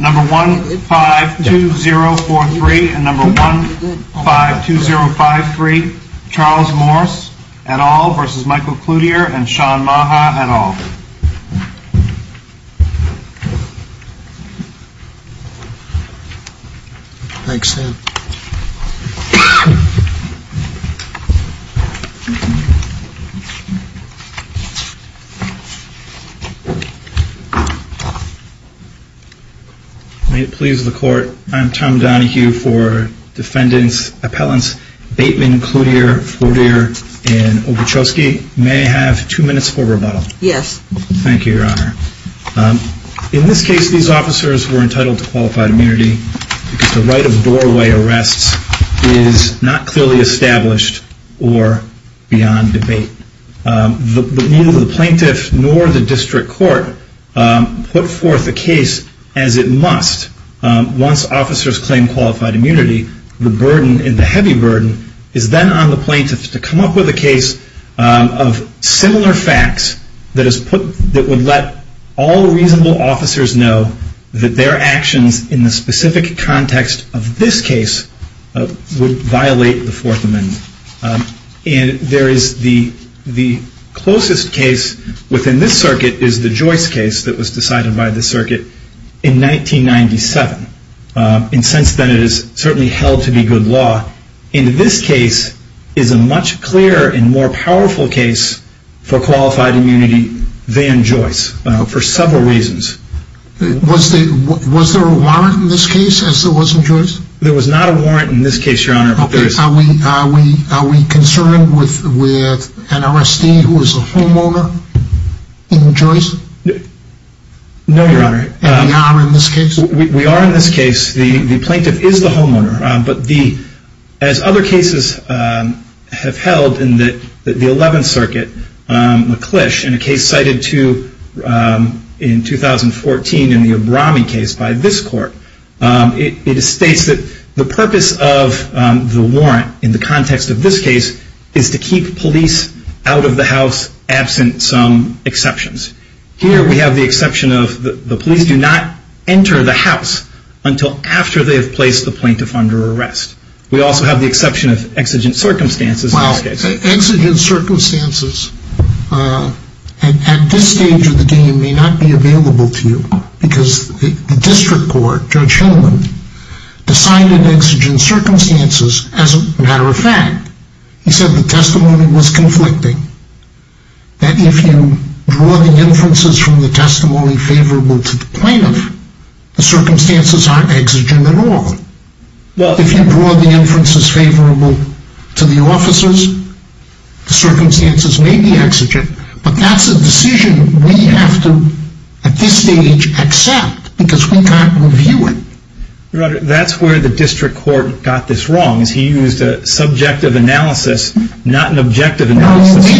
number 1 5 2 0 4 3 and number 1 5 2 0 5 3 Charles Morse et al. versus Michael Cloutier and Shawn Maha et al. Thanks Sam. May it please the court, I'm Tom Donohue for defendants, appellants Bateman, Cloutier, Cloutier, and Obruchovsky. May I have two minutes for rebuttal? Yes. Thank you your honor. In this case these officers were entitled to qualified immunity because the right of doorway arrests is not clearly established or beyond debate. Neither the plaintiff nor the district court put forth the case as it must. Once officers claim qualified immunity, the burden and the heavy burden is then on the plaintiffs to come up with a case of similar facts that is put that would let all reasonable officers know that their actions in the specific context of this case would violate the fourth amendment. And there is the closest case within this circuit is the Joyce case that was decided by the circuit in 1997. And since then it is certainly held to be good law. And this case is a much clearer and more powerful case for qualified immunity than Joyce for several reasons. Was there a warrant in this case as there was in Joyce? There was not a warrant in this case your honor. Are we concerned with an RSD who is a homeowner in Joyce? No your honor. And we are in this case? We are in this case. The plaintiff is the homeowner. But as other cases have held in the 11th circuit, McClish in a case cited to in 2014 in the Abrami case by this court, it states that the purpose of the warrant in the context of this case is to keep police out of the house absent some exceptions. Here we have the exception of the police do not enter the house until after they have placed the plaintiff under arrest. We also have the exception of exigent circumstances in this case. Exigent circumstances at this stage of the game may not be available to you because the district court, Judge Hillman, decided exigent circumstances as a matter of fact. He said the testimony was conflicting. That if you draw the inferences from the testimony favorable to the plaintiff, the circumstances aren't exigent at all. If you draw the inferences from the testimony unfavorable to the officers, the circumstances may be exigent, but that's a decision we have to, at this stage, accept because we can't review it. Your honor, that's where the district court got this wrong. He used a subjective analysis, not an objective analysis. No, he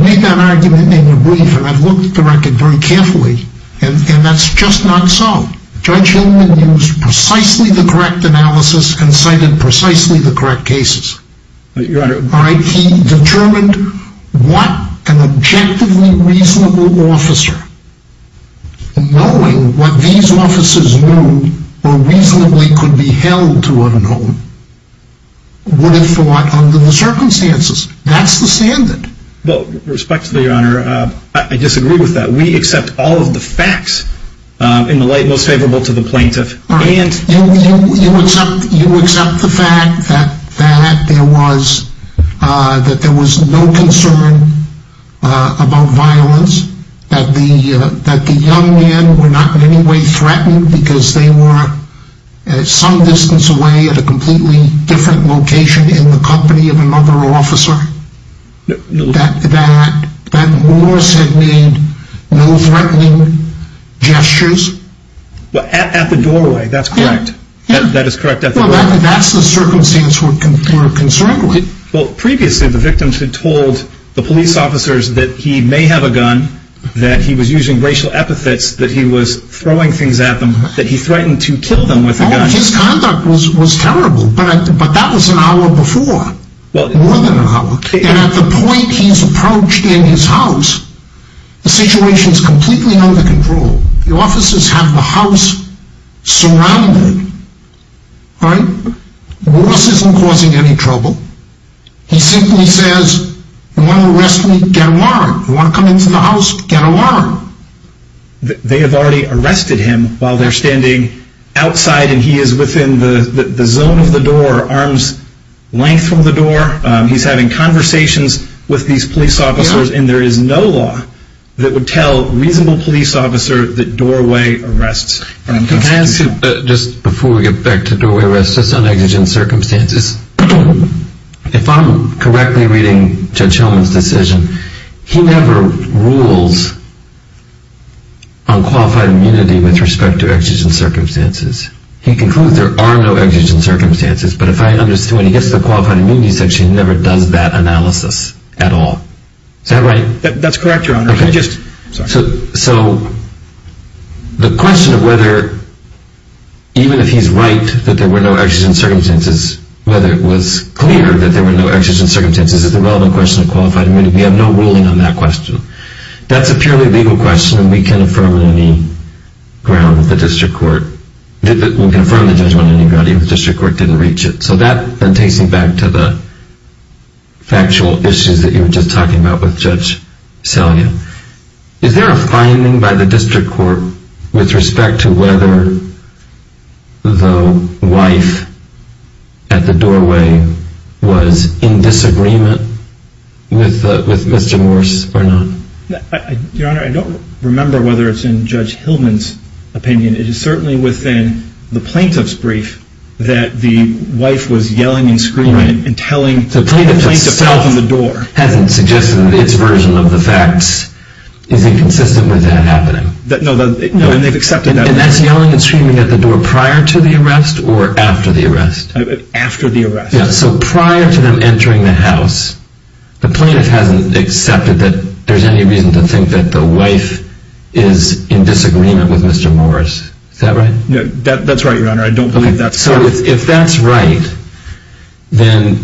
made that argument in your brief, and I've looked at the record very carefully, and that's just not so. Judge Hillman used precisely the correct analysis and cited precisely the correct evidence. He determined what an objectively reasonable officer, knowing what these officers knew or reasonably could be held to a known, would have thought under the circumstances. That's the standard. Well, respectfully, your honor, I disagree with that. We accept all of the facts in the light most favorable to the plaintiff. You accept the fact that there was no concern about violence, that the young men were not in any way threatened because they were some distance away at a completely different location in the company of another officer? That Morris had made no threatening gestures? At the doorway, that's correct. That is correct at the doorway. Well, that's the circumstance we're concerned with. Well, previously, the victims had told the police officers that he may have a gun, that he was using racial epithets, that he was throwing things at them, that he threatened to kill them with a gun. His conduct was terrible, but that was an hour before, more than an hour, and at the point he's approached in his house, the situation is completely under control. The officers have the house surrounded. Morris isn't causing any trouble. He simply says, if you want to arrest me, get a warrant. If you want to come into the house, get a warrant. They have already arrested him while they're standing outside, and he is within the zone of the door, arm's length from the door. He's having conversations with these police officers, and there is no law that would tell a reasonable police officer that doorway arrests are unconstitutional. Just before we get back to doorway arrests, just on exigent circumstances, if I'm correctly reading Judge Hellman's decision, he never rules on qualified immunity with respect to exigent circumstances. He concludes there are no exigent circumstances, but if I understand when he gets to the qualified immunity section, he never does that analysis at all. Is that right? That's correct, Your Honor. So, the question of whether, even if he's right that there were no exigent circumstances, whether it was clear that there were no exigent circumstances, is a relevant question of qualified immunity. We have no ruling on that question. That's a purely legal question, and we can affirm on any ground that the district court, we can affirm the judgment on any ground, even if the district court didn't reach it. So that then takes me back to the factual issues that you were just talking about with Judge Selya. Is there a finding by the district court with respect to whether the wife at the doorway was in disagreement with Mr. Morse or not? Your Honor, I don't remember whether it's in Judge Hellman's opinion. It is certainly within the plaintiff's brief that the wife was yelling and screaming and telling the plaintiff to open the door. The plaintiff itself hasn't suggested its version of the facts. Is it consistent with that happening? No, and they've accepted that. And that's yelling and screaming at the door prior to the arrest or after the arrest? After the arrest. Yeah, so prior to them entering the house, the plaintiff hasn't accepted that there's any reason to think that the wife is in disagreement with Mr. Morse. Is that right? That's right, Your Honor. I don't believe that's correct. So if that's right, then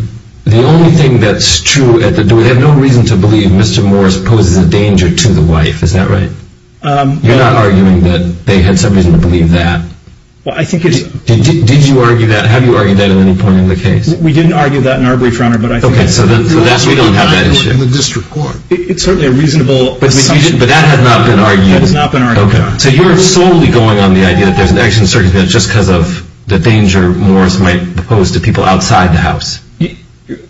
the only thing that's true at the doorway, they have no reason to believe Mr. Morse poses a danger to the wife. Is that right? You're not arguing that they had some reason to believe that? Did you argue that? Have you argued that at any point in the case? We didn't argue that in our brief, Your Honor. Okay, so that's why you don't have that issue. It's certainly a reasonable assumption. But that has not been argued? That has not been argued, Your Honor. So you're solely going on the idea that there's an action in circumstance just because of the danger Morse might pose to people outside the house?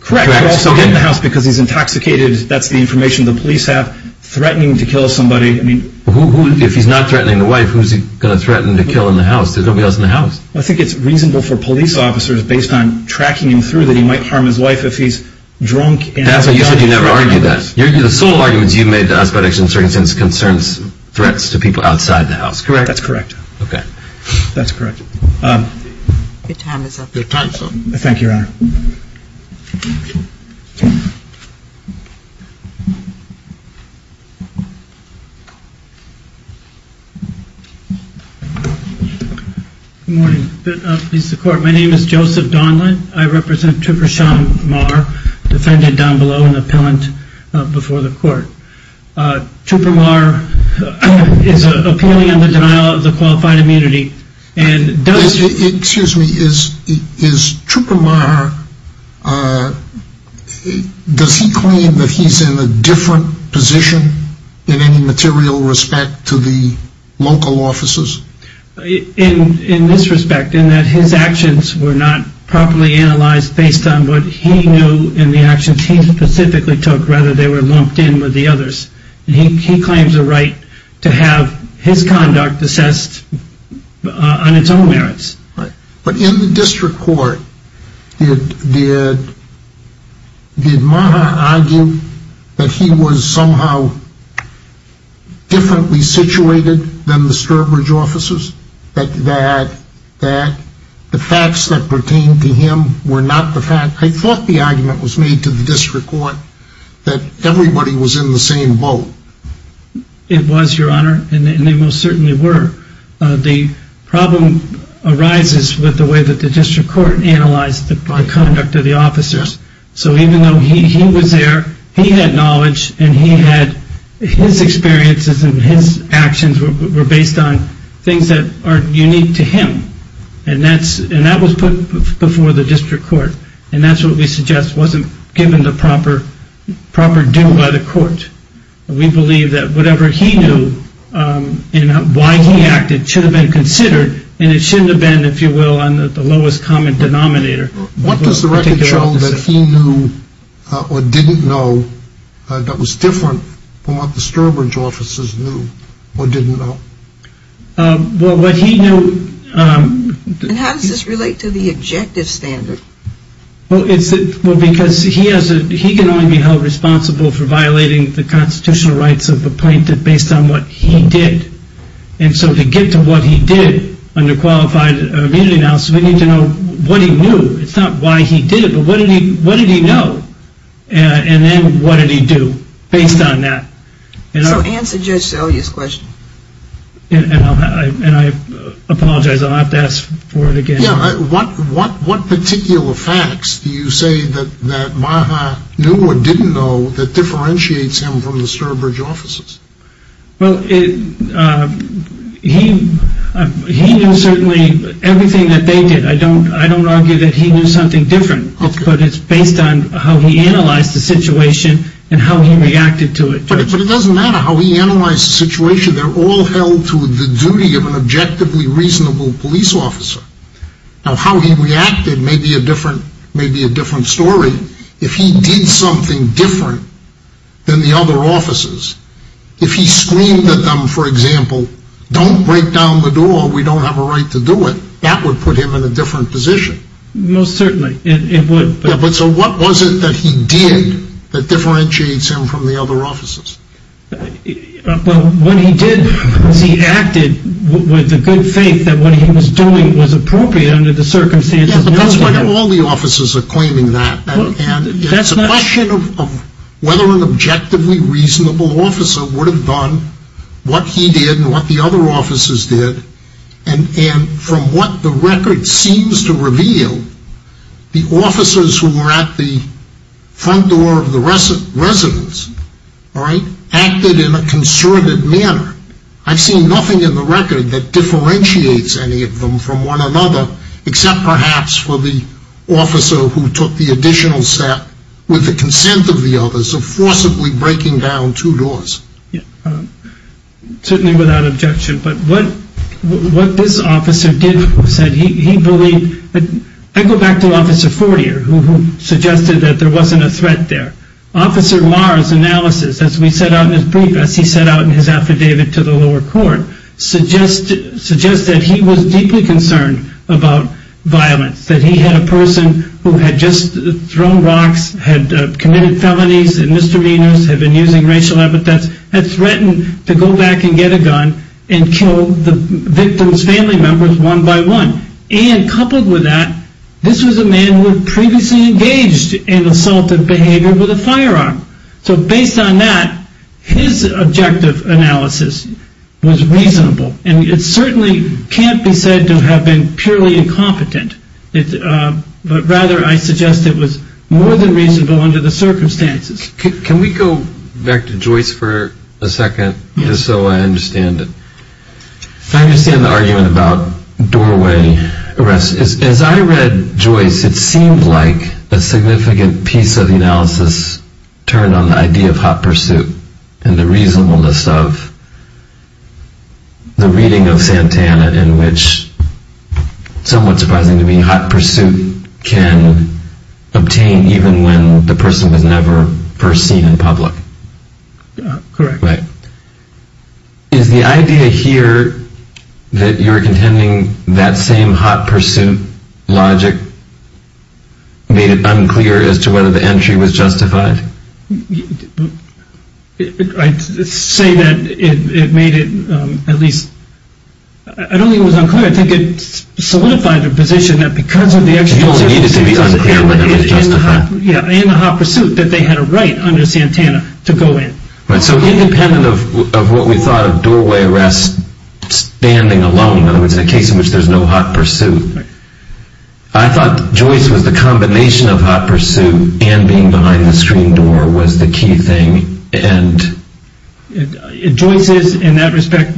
Correct. You're also getting the house because he's intoxicated. That's the information the police have. Threatening to kill somebody. If he's not threatening the wife, who's he going to threaten to kill in the house? There's nobody else in the house. I think it's reasonable for police officers, based on tracking him through, that he might harm his wife if he's drunk. That's why you said you never argued that. The sole arguments you made to us about action in circumstance concerns threats to people outside the house. Correct? That's correct. Okay. That's correct. Your time is up. Thank you, Your Honor. Good morning. My name is Joseph Donlin. I represent Trooper Sean Maher, defendant down below and appellant before the court. Trooper Maher is appealing on the denial of the qualified immunity. Excuse me. Is Trooper Maher, does he claim that he's in a different position in any material respect to the local officers? In this respect, in that his actions were not properly analyzed based on what he knew in the actions he specifically took. Rather, they were lumped in with the others. He claims a right to have his conduct assessed on its own merits. Right. But in the district court, did Maher argue that he was somehow differently situated than the Sturbridge officers? That the facts that pertained to him were not the facts? I thought the argument was made to the district court that everybody was in the same boat. It was, Your Honor, and they most certainly were. The problem arises with the way that the district court analyzed the conduct of the officers. Yes. So even though he was there, he had knowledge and he had his experiences and his actions were based on things that are unique to him. And that was put before the district court. And that's what we suggest wasn't given the proper due by the court. We believe that whatever he knew and why he acted should have been considered and it shouldn't have been, if you will, on the lowest common denominator. What does the record show that he knew or didn't know that was different from what the Sturbridge officers knew or didn't know? Well, what he knew... And how does this relate to the objective standard? Well, because he can only be held responsible for violating the constitutional rights of the plaintiff based on what he did. And so to get to what he did under qualified immunity analysis, we need to know what he knew. It's not why he did it, but what did he know? And then what did he do based on that? So answer Judge Selye's question. And I apologize. I'll have to ask for it again. Yeah. What particular facts do you say that Maha knew or didn't know that differentiates him from the Sturbridge officers? Well, he knew certainly everything that they did. I don't argue that he knew something different, but it's based on how he analyzed the situation and how he reacted to it. But it doesn't matter how he analyzed the situation. They're all held to the duty of an objectively reasonable police officer. Now, how he reacted may be a different story. If he did something different than the other officers, if he screamed at them, for example, don't break down the door, we don't have a right to do it, that would put him in a different position. Most certainly it would. Yeah, but so what was it that he did that differentiates him from the other officers? Well, when he did, he acted with the good faith that what he was doing was appropriate under the circumstances. Yeah, but that's why all the officers are claiming that. And it's a question of whether an objectively reasonable officer would have done what he did and what the other officers did. And from what the record seems to reveal, the officers who were at the front door of the residence acted in a concerted manner. I've seen nothing in the record that differentiates any of them from one another, except perhaps for the officer who took the additional step with the consent of the others of forcibly breaking down two doors. Certainly without objection, but what this officer did was that he believed, I go back to Officer Fortier, who suggested that there wasn't a threat there. Officer Marr's analysis, as we set out in his brief, as he set out in his affidavit to the lower court, suggests that he was deeply concerned about violence, that he had a person who had just thrown rocks, had committed felonies and misdemeanors, had been using racial epithets, had threatened to go back and get a gun and kill the victim's family members one by one. And coupled with that, this was a man who had previously engaged in assaultive behavior with a firearm. So based on that, his objective analysis was reasonable. And it certainly can't be said to have been purely incompetent. But rather, I suggest it was more than reasonable under the circumstances. Can we go back to Joyce for a second, just so I understand it? I understand the argument about doorway arrests. As I read Joyce, it seemed like a significant piece of the analysis turned on the idea of hot pursuit and the reasonableness of the reading of Santana in which, somewhat surprising to me, hot pursuit can obtain even when the person was never first seen in public. Correct. Right. Is the idea here that you're contending that same hot pursuit logic made it unclear as to whether the entry was justified? I'd say that it made it, at least, I don't think it was unclear. I think it solidified the position that because of the actual... It needed to be unclear whether it was justified. Yeah, in the hot pursuit, that they had a right under Santana to go in. Right. So independent of what we thought of doorway arrests standing alone, in other words, in a case in which there's no hot pursuit, I thought Joyce was the combination of hot pursuit and being behind the screen door was the key thing and... Joyce is in that respect.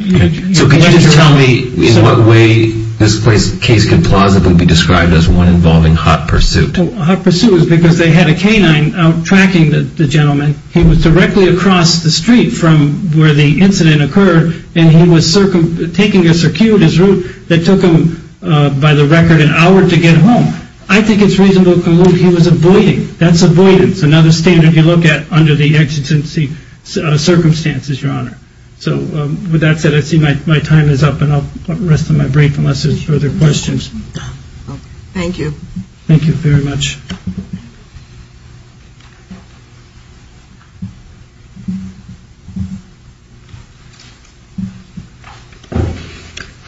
So could you just tell me in what way this case could plausibly be described as one involving hot pursuit? Hot pursuit is because they had a canine out tracking the gentleman. He was directly across the street from where the incident occurred and he was taking a circuitous route that took him, by the record, an hour to get home. I think it's reasonable to conclude he was avoiding. That's avoidance, another standard you look at under the exigency circumstances, Your Honor. So with that said, I see my time is up and I'll rest on my break unless there's further questions. Thank you. Thank you very much.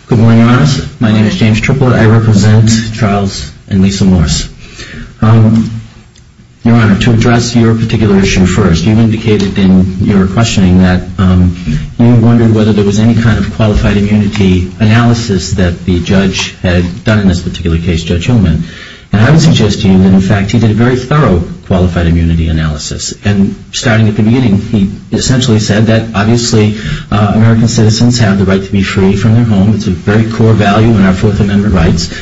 Good morning, Your Honors. My name is James Triplett. I represent Charles and Lisa Morse. Your Honor, to address your particular issue first, you indicated in your questioning that you wondered whether there was any kind of qualified immunity analysis that the judge had done in this particular case, Judge Hillman. And I would suggest to you that, in fact, he did a very thorough qualified immunity analysis. And starting at the beginning, he essentially said that, obviously, American citizens have the right to be free from their home. It's a very core value in our Fourth Amendment rights.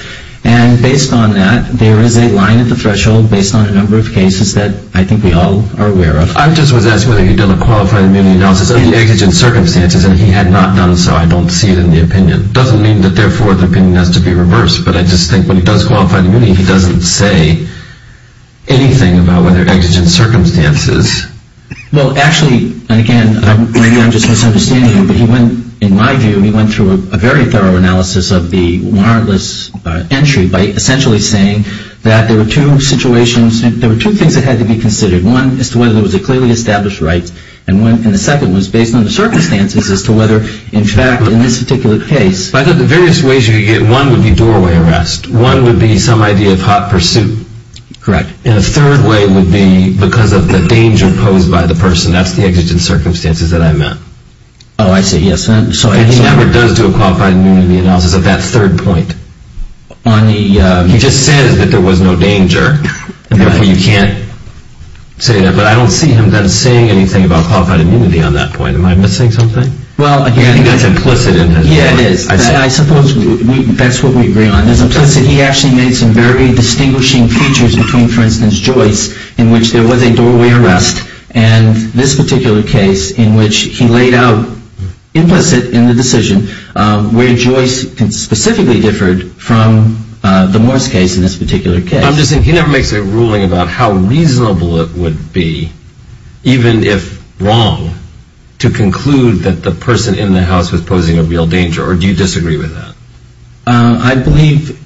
And based on that, there is a line at the threshold based on a number of cases that I think we all are aware of. I just was asking whether he did a qualified immunity analysis of the exigent circumstances, and he had not done so. I don't see it in the opinion. It doesn't mean that, therefore, the opinion has to be reversed, but I just think when he does qualified immunity, he doesn't say anything about whether exigent circumstances. Well, actually, and again, maybe I'm just misunderstanding you, but he went, in my view, he went through a very thorough analysis of the warrantless entry by essentially saying that there were two situations, there were two things that had to be considered. One is to whether there was a clearly established right, and the second was based on the circumstances as to whether, in fact, in this particular case. I thought the various ways you could get one would be doorway arrest. One would be some idea of hot pursuit. Correct. And a third way would be because of the danger posed by the person. That's the exigent circumstances that I meant. Oh, I see. Yes. And he never does do a qualified immunity analysis at that third point. He just says that there was no danger, and therefore you can't say that. But I don't see him then saying anything about qualified immunity on that point. Am I missing something? Well, again, I think that's implicit in his report. Yeah, it is. I suppose that's what we agree on. He actually made some very distinguishing features between, for instance, Joyce in which there was a doorway arrest and this particular case in which he laid out implicit in the decision where Joyce specifically differed from the Morris case in this particular case. I'm just saying he never makes a ruling about how reasonable it would be, even if wrong, to conclude that the person in the house was posing a real danger. Or do you disagree with that? I believe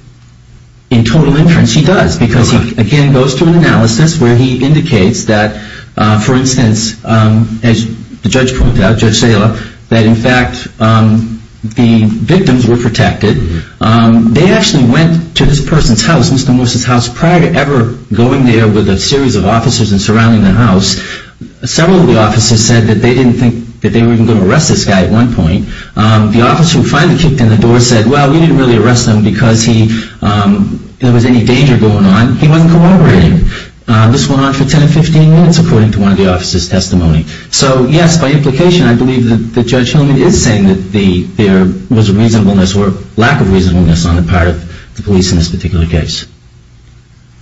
in total inference he does because he, again, goes through an analysis where he indicates that, for instance, as the judge pointed out, Judge Sala, that in fact the victims were protected. They actually went to this person's house, Mr. Morris' house, prior to ever going there with a series of officers and surrounding the house. Several of the officers said that they didn't think that they were even going to arrest this guy at one point. The officer who finally kicked in the door said, well, we didn't really arrest him because there was any danger going on. He wasn't corroborating. This went on for 10 or 15 minutes, according to one of the officers' testimony. So, yes, by implication, I believe that Judge Hillman is saying that there was a reasonableness or lack of reasonableness on the part of the police in this particular case.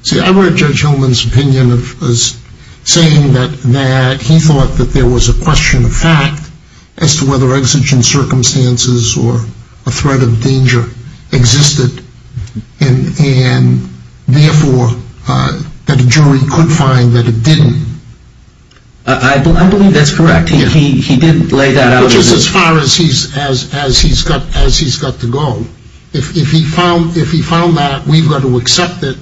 See, I read Judge Hillman's opinion as saying that he thought that there was a question of fact as to whether exigent circumstances or a threat of danger existed and, therefore, that a jury could find that it didn't. I believe that's correct. He did lay that out. Which is as far as he's got to go. If he found that, we've got to accept it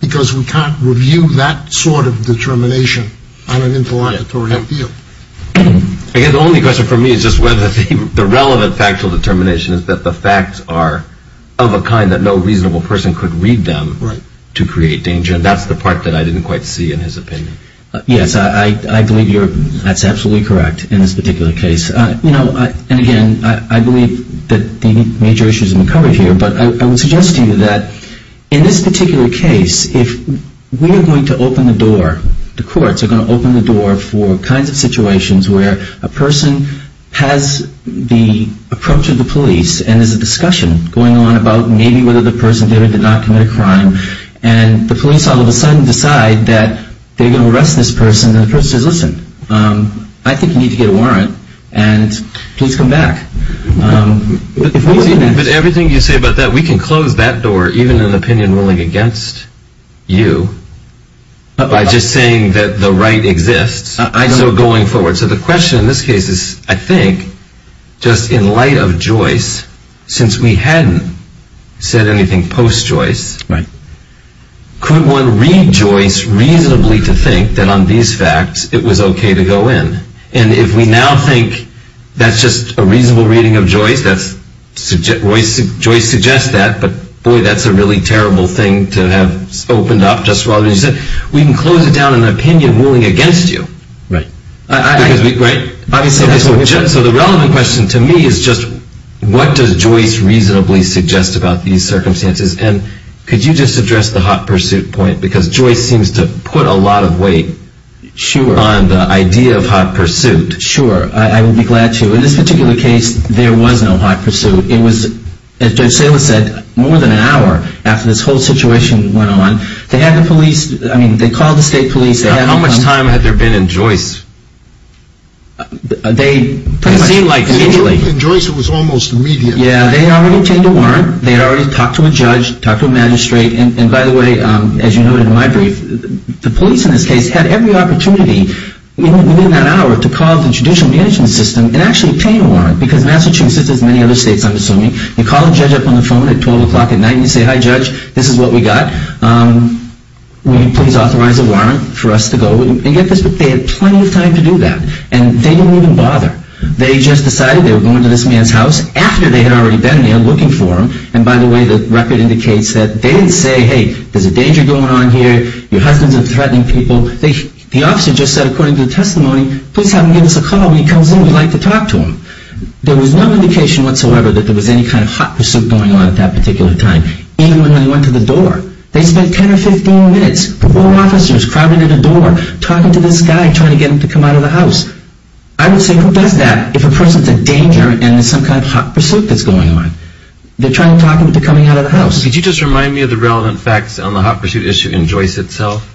because we can't review that sort of determination on an interlocutory appeal. I guess the only question for me is just whether the relevant factual determination is that the facts are of a kind that no reasonable person could read them to create danger, and that's the part that I didn't quite see in his opinion. Yes, I believe that's absolutely correct in this particular case. And, again, I believe that the major issues have been covered here, but I would suggest to you that in this particular case, if we are going to open the door, the courts are going to open the door for kinds of situations where a person has the approach of the police and there's a discussion going on about maybe whether the person did or did not commit a crime and the police all of a sudden decide that they're going to arrest this person and the person says, listen, I think you need to get a warrant and please come back. But everything you say about that, we can close that door, even an opinion ruling against you. By just saying that the right exists, so going forward. So the question in this case is, I think, just in light of Joyce, since we hadn't said anything post-Joyce, could one read Joyce reasonably to think that on these facts it was okay to go in? And if we now think that's just a reasonable reading of Joyce, Joyce suggests that, but boy, that's a really terrible thing to have opened up just as you said. We can close it down in an opinion ruling against you. Right. Right? So the relevant question to me is just what does Joyce reasonably suggest about these circumstances? And could you just address the hot pursuit point? Because Joyce seems to put a lot of weight on the idea of hot pursuit. Sure. I would be glad to. In this particular case, there was no hot pursuit. It was, as Judge Salis said, more than an hour after this whole situation went on. They had the police. I mean, they called the state police. How much time had there been in Joyce? They pretty much immediately. In Joyce, it was almost immediate. Yeah, they had already obtained a warrant. They had already talked to a judge, talked to a magistrate. And by the way, as you noted in my brief, the police in this case had every opportunity within that hour to call the judicial management system and actually obtain a warrant because Massachusetts, as many other states, I'm assuming, you call a judge up on the phone at 12 o'clock at night and you say, hi, judge, this is what we got. Will you please authorize a warrant for us to go and get this? But they had plenty of time to do that. And they didn't even bother. They just decided they were going to this man's house after they had already been there looking for him. And by the way, the record indicates that they didn't say, hey, there's a danger going on here. Your husbands are threatening people. The officer just said, according to the testimony, please have him give us a call when he comes in. We would like to talk to him. There was no indication whatsoever that there was any kind of hot pursuit going on at that particular time, even when they went to the door. They spent 10 or 15 minutes, four officers crowding in a door, talking to this guy, trying to get him to come out of the house. I would say who does that if a person's in danger and there's some kind of hot pursuit that's going on? They're trying to talk him into coming out of the house. Could you just remind me of the relevant facts on the hot pursuit issue in Joyce itself?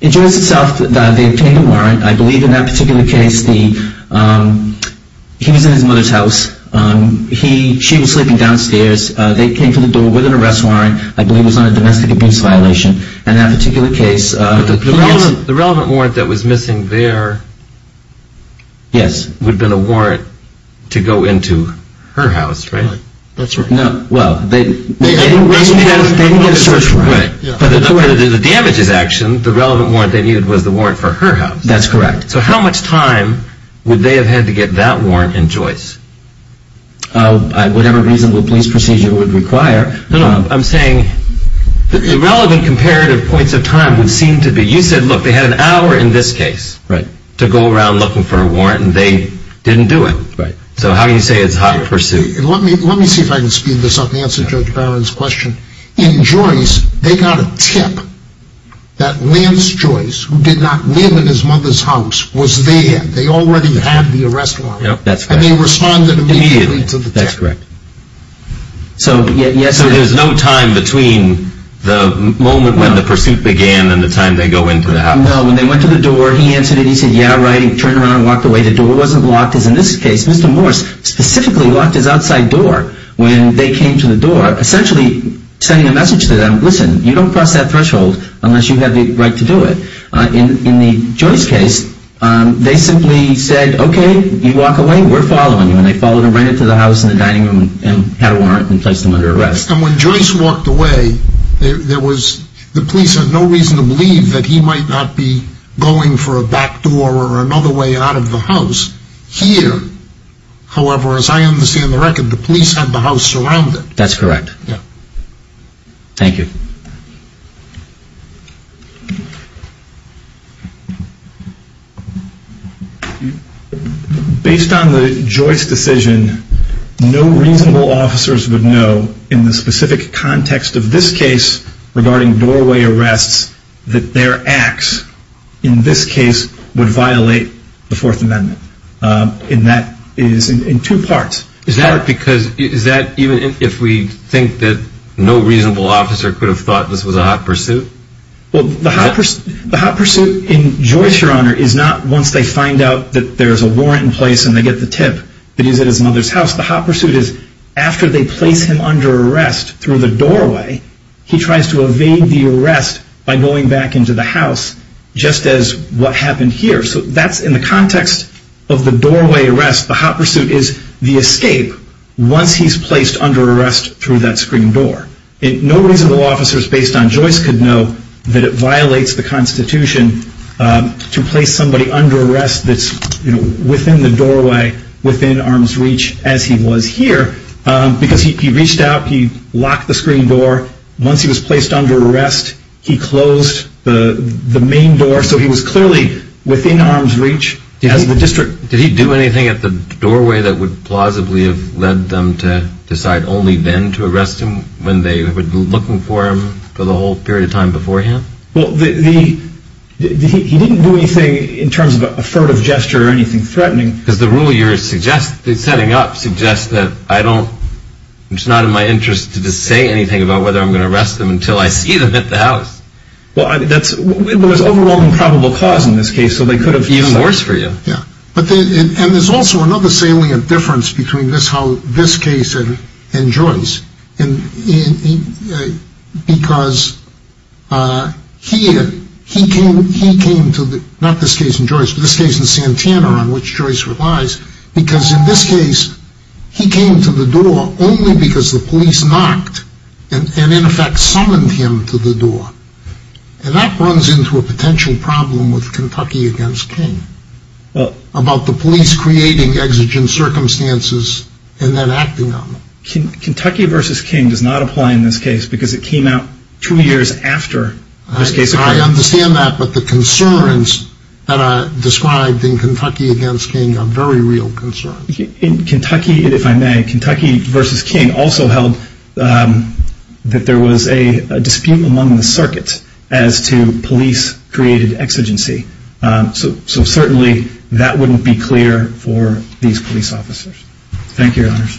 In Joyce itself, they obtained a warrant. I believe in that particular case, he was in his mother's house. She was sleeping downstairs. They came to the door with an arrest warrant. I believe it was on a domestic abuse violation. In that particular case, the police – The relevant warrant that was missing there would have been a warrant to go into her house, right? That's right. Well, they didn't get a search warrant. The damages action, the relevant warrant they needed was the warrant for her house. That's correct. So how much time would they have had to get that warrant in Joyce? Whatever reasonable police procedure would require. No, no. I'm saying the relevant comparative points of time would seem to be – you said, look, they had an hour in this case to go around looking for a warrant, and they didn't do it. So how do you say it's hot pursuit? Let me see if I can speed this up and answer Judge Bowen's question. In Joyce, they got a tip that Lance Joyce, who did not live in his mother's house, was there. They already had the arrest warrant. Yep, that's correct. And they responded immediately to the tip. That's correct. So there's no time between the moment when the pursuit began and the time they go into the house? No. When they went to the door, he answered it. He said, yeah, right. He turned around and walked away. The door wasn't locked as in this case. Mr. Morse specifically locked his outside door when they came to the door. Essentially sending a message to them, listen, you don't cross that threshold unless you have the right to do it. In the Joyce case, they simply said, okay, you walk away, we're following you. And they followed him right into the house and the dining room and had a warrant and placed him under arrest. And when Joyce walked away, the police had no reason to believe that he might not be going for a back door or another way out of the house here. However, as I understand the record, the police had the house surrounded. That's correct. Thank you. Based on the Joyce decision, no reasonable officers would know in the specific context of this case regarding doorway arrests that their acts in this case would violate the Fourth Amendment. And that is in two parts. Is that even if we think that no reasonable officer could have thought this was a hot pursuit? Well, the hot pursuit in Joyce, Your Honor, is not once they find out that there's a warrant in place and they get the tip that he's at his mother's house. The hot pursuit is after they place him under arrest through the doorway, he tries to evade the arrest by going back into the house just as what happened here. So that's in the context of the doorway arrest. The hot pursuit is the escape once he's placed under arrest through that screen door. No reasonable officers based on Joyce could know that it violates the Constitution to place somebody under arrest that's within the doorway, within arm's reach as he was here because he reached out, he locked the screen door. Once he was placed under arrest, he closed the main door. So he was clearly within arm's reach. Did he do anything at the doorway that would plausibly have led them to decide only then to arrest him when they were looking for him for the whole period of time beforehand? Well, he didn't do anything in terms of a furtive gesture or anything threatening. Because the rule you're setting up suggests that it's not in my interest to just say anything about whether I'm going to arrest him until I see them at the house. Well, there's overwhelming probable cause in this case, so they could have even worse for you. Yeah. And there's also another salient difference between this case and Joyce. Because here, he came to the, not this case in Joyce, but this case in Santana on which Joyce relies, because in this case, he came to the door only because the police knocked and in effect summoned him to the door. And that runs into a potential problem with Kentucky v. King about the police creating exigent circumstances and then acting on them. Kentucky v. King does not apply in this case because it came out two years after this case occurred. I understand that, but the concerns that are described in Kentucky v. King are very real concerns. In Kentucky, if I may, Kentucky v. King also held that there was a dispute among the circuits as to police created exigency. So certainly, that wouldn't be clear for these police officers. Thank you, Your Honors.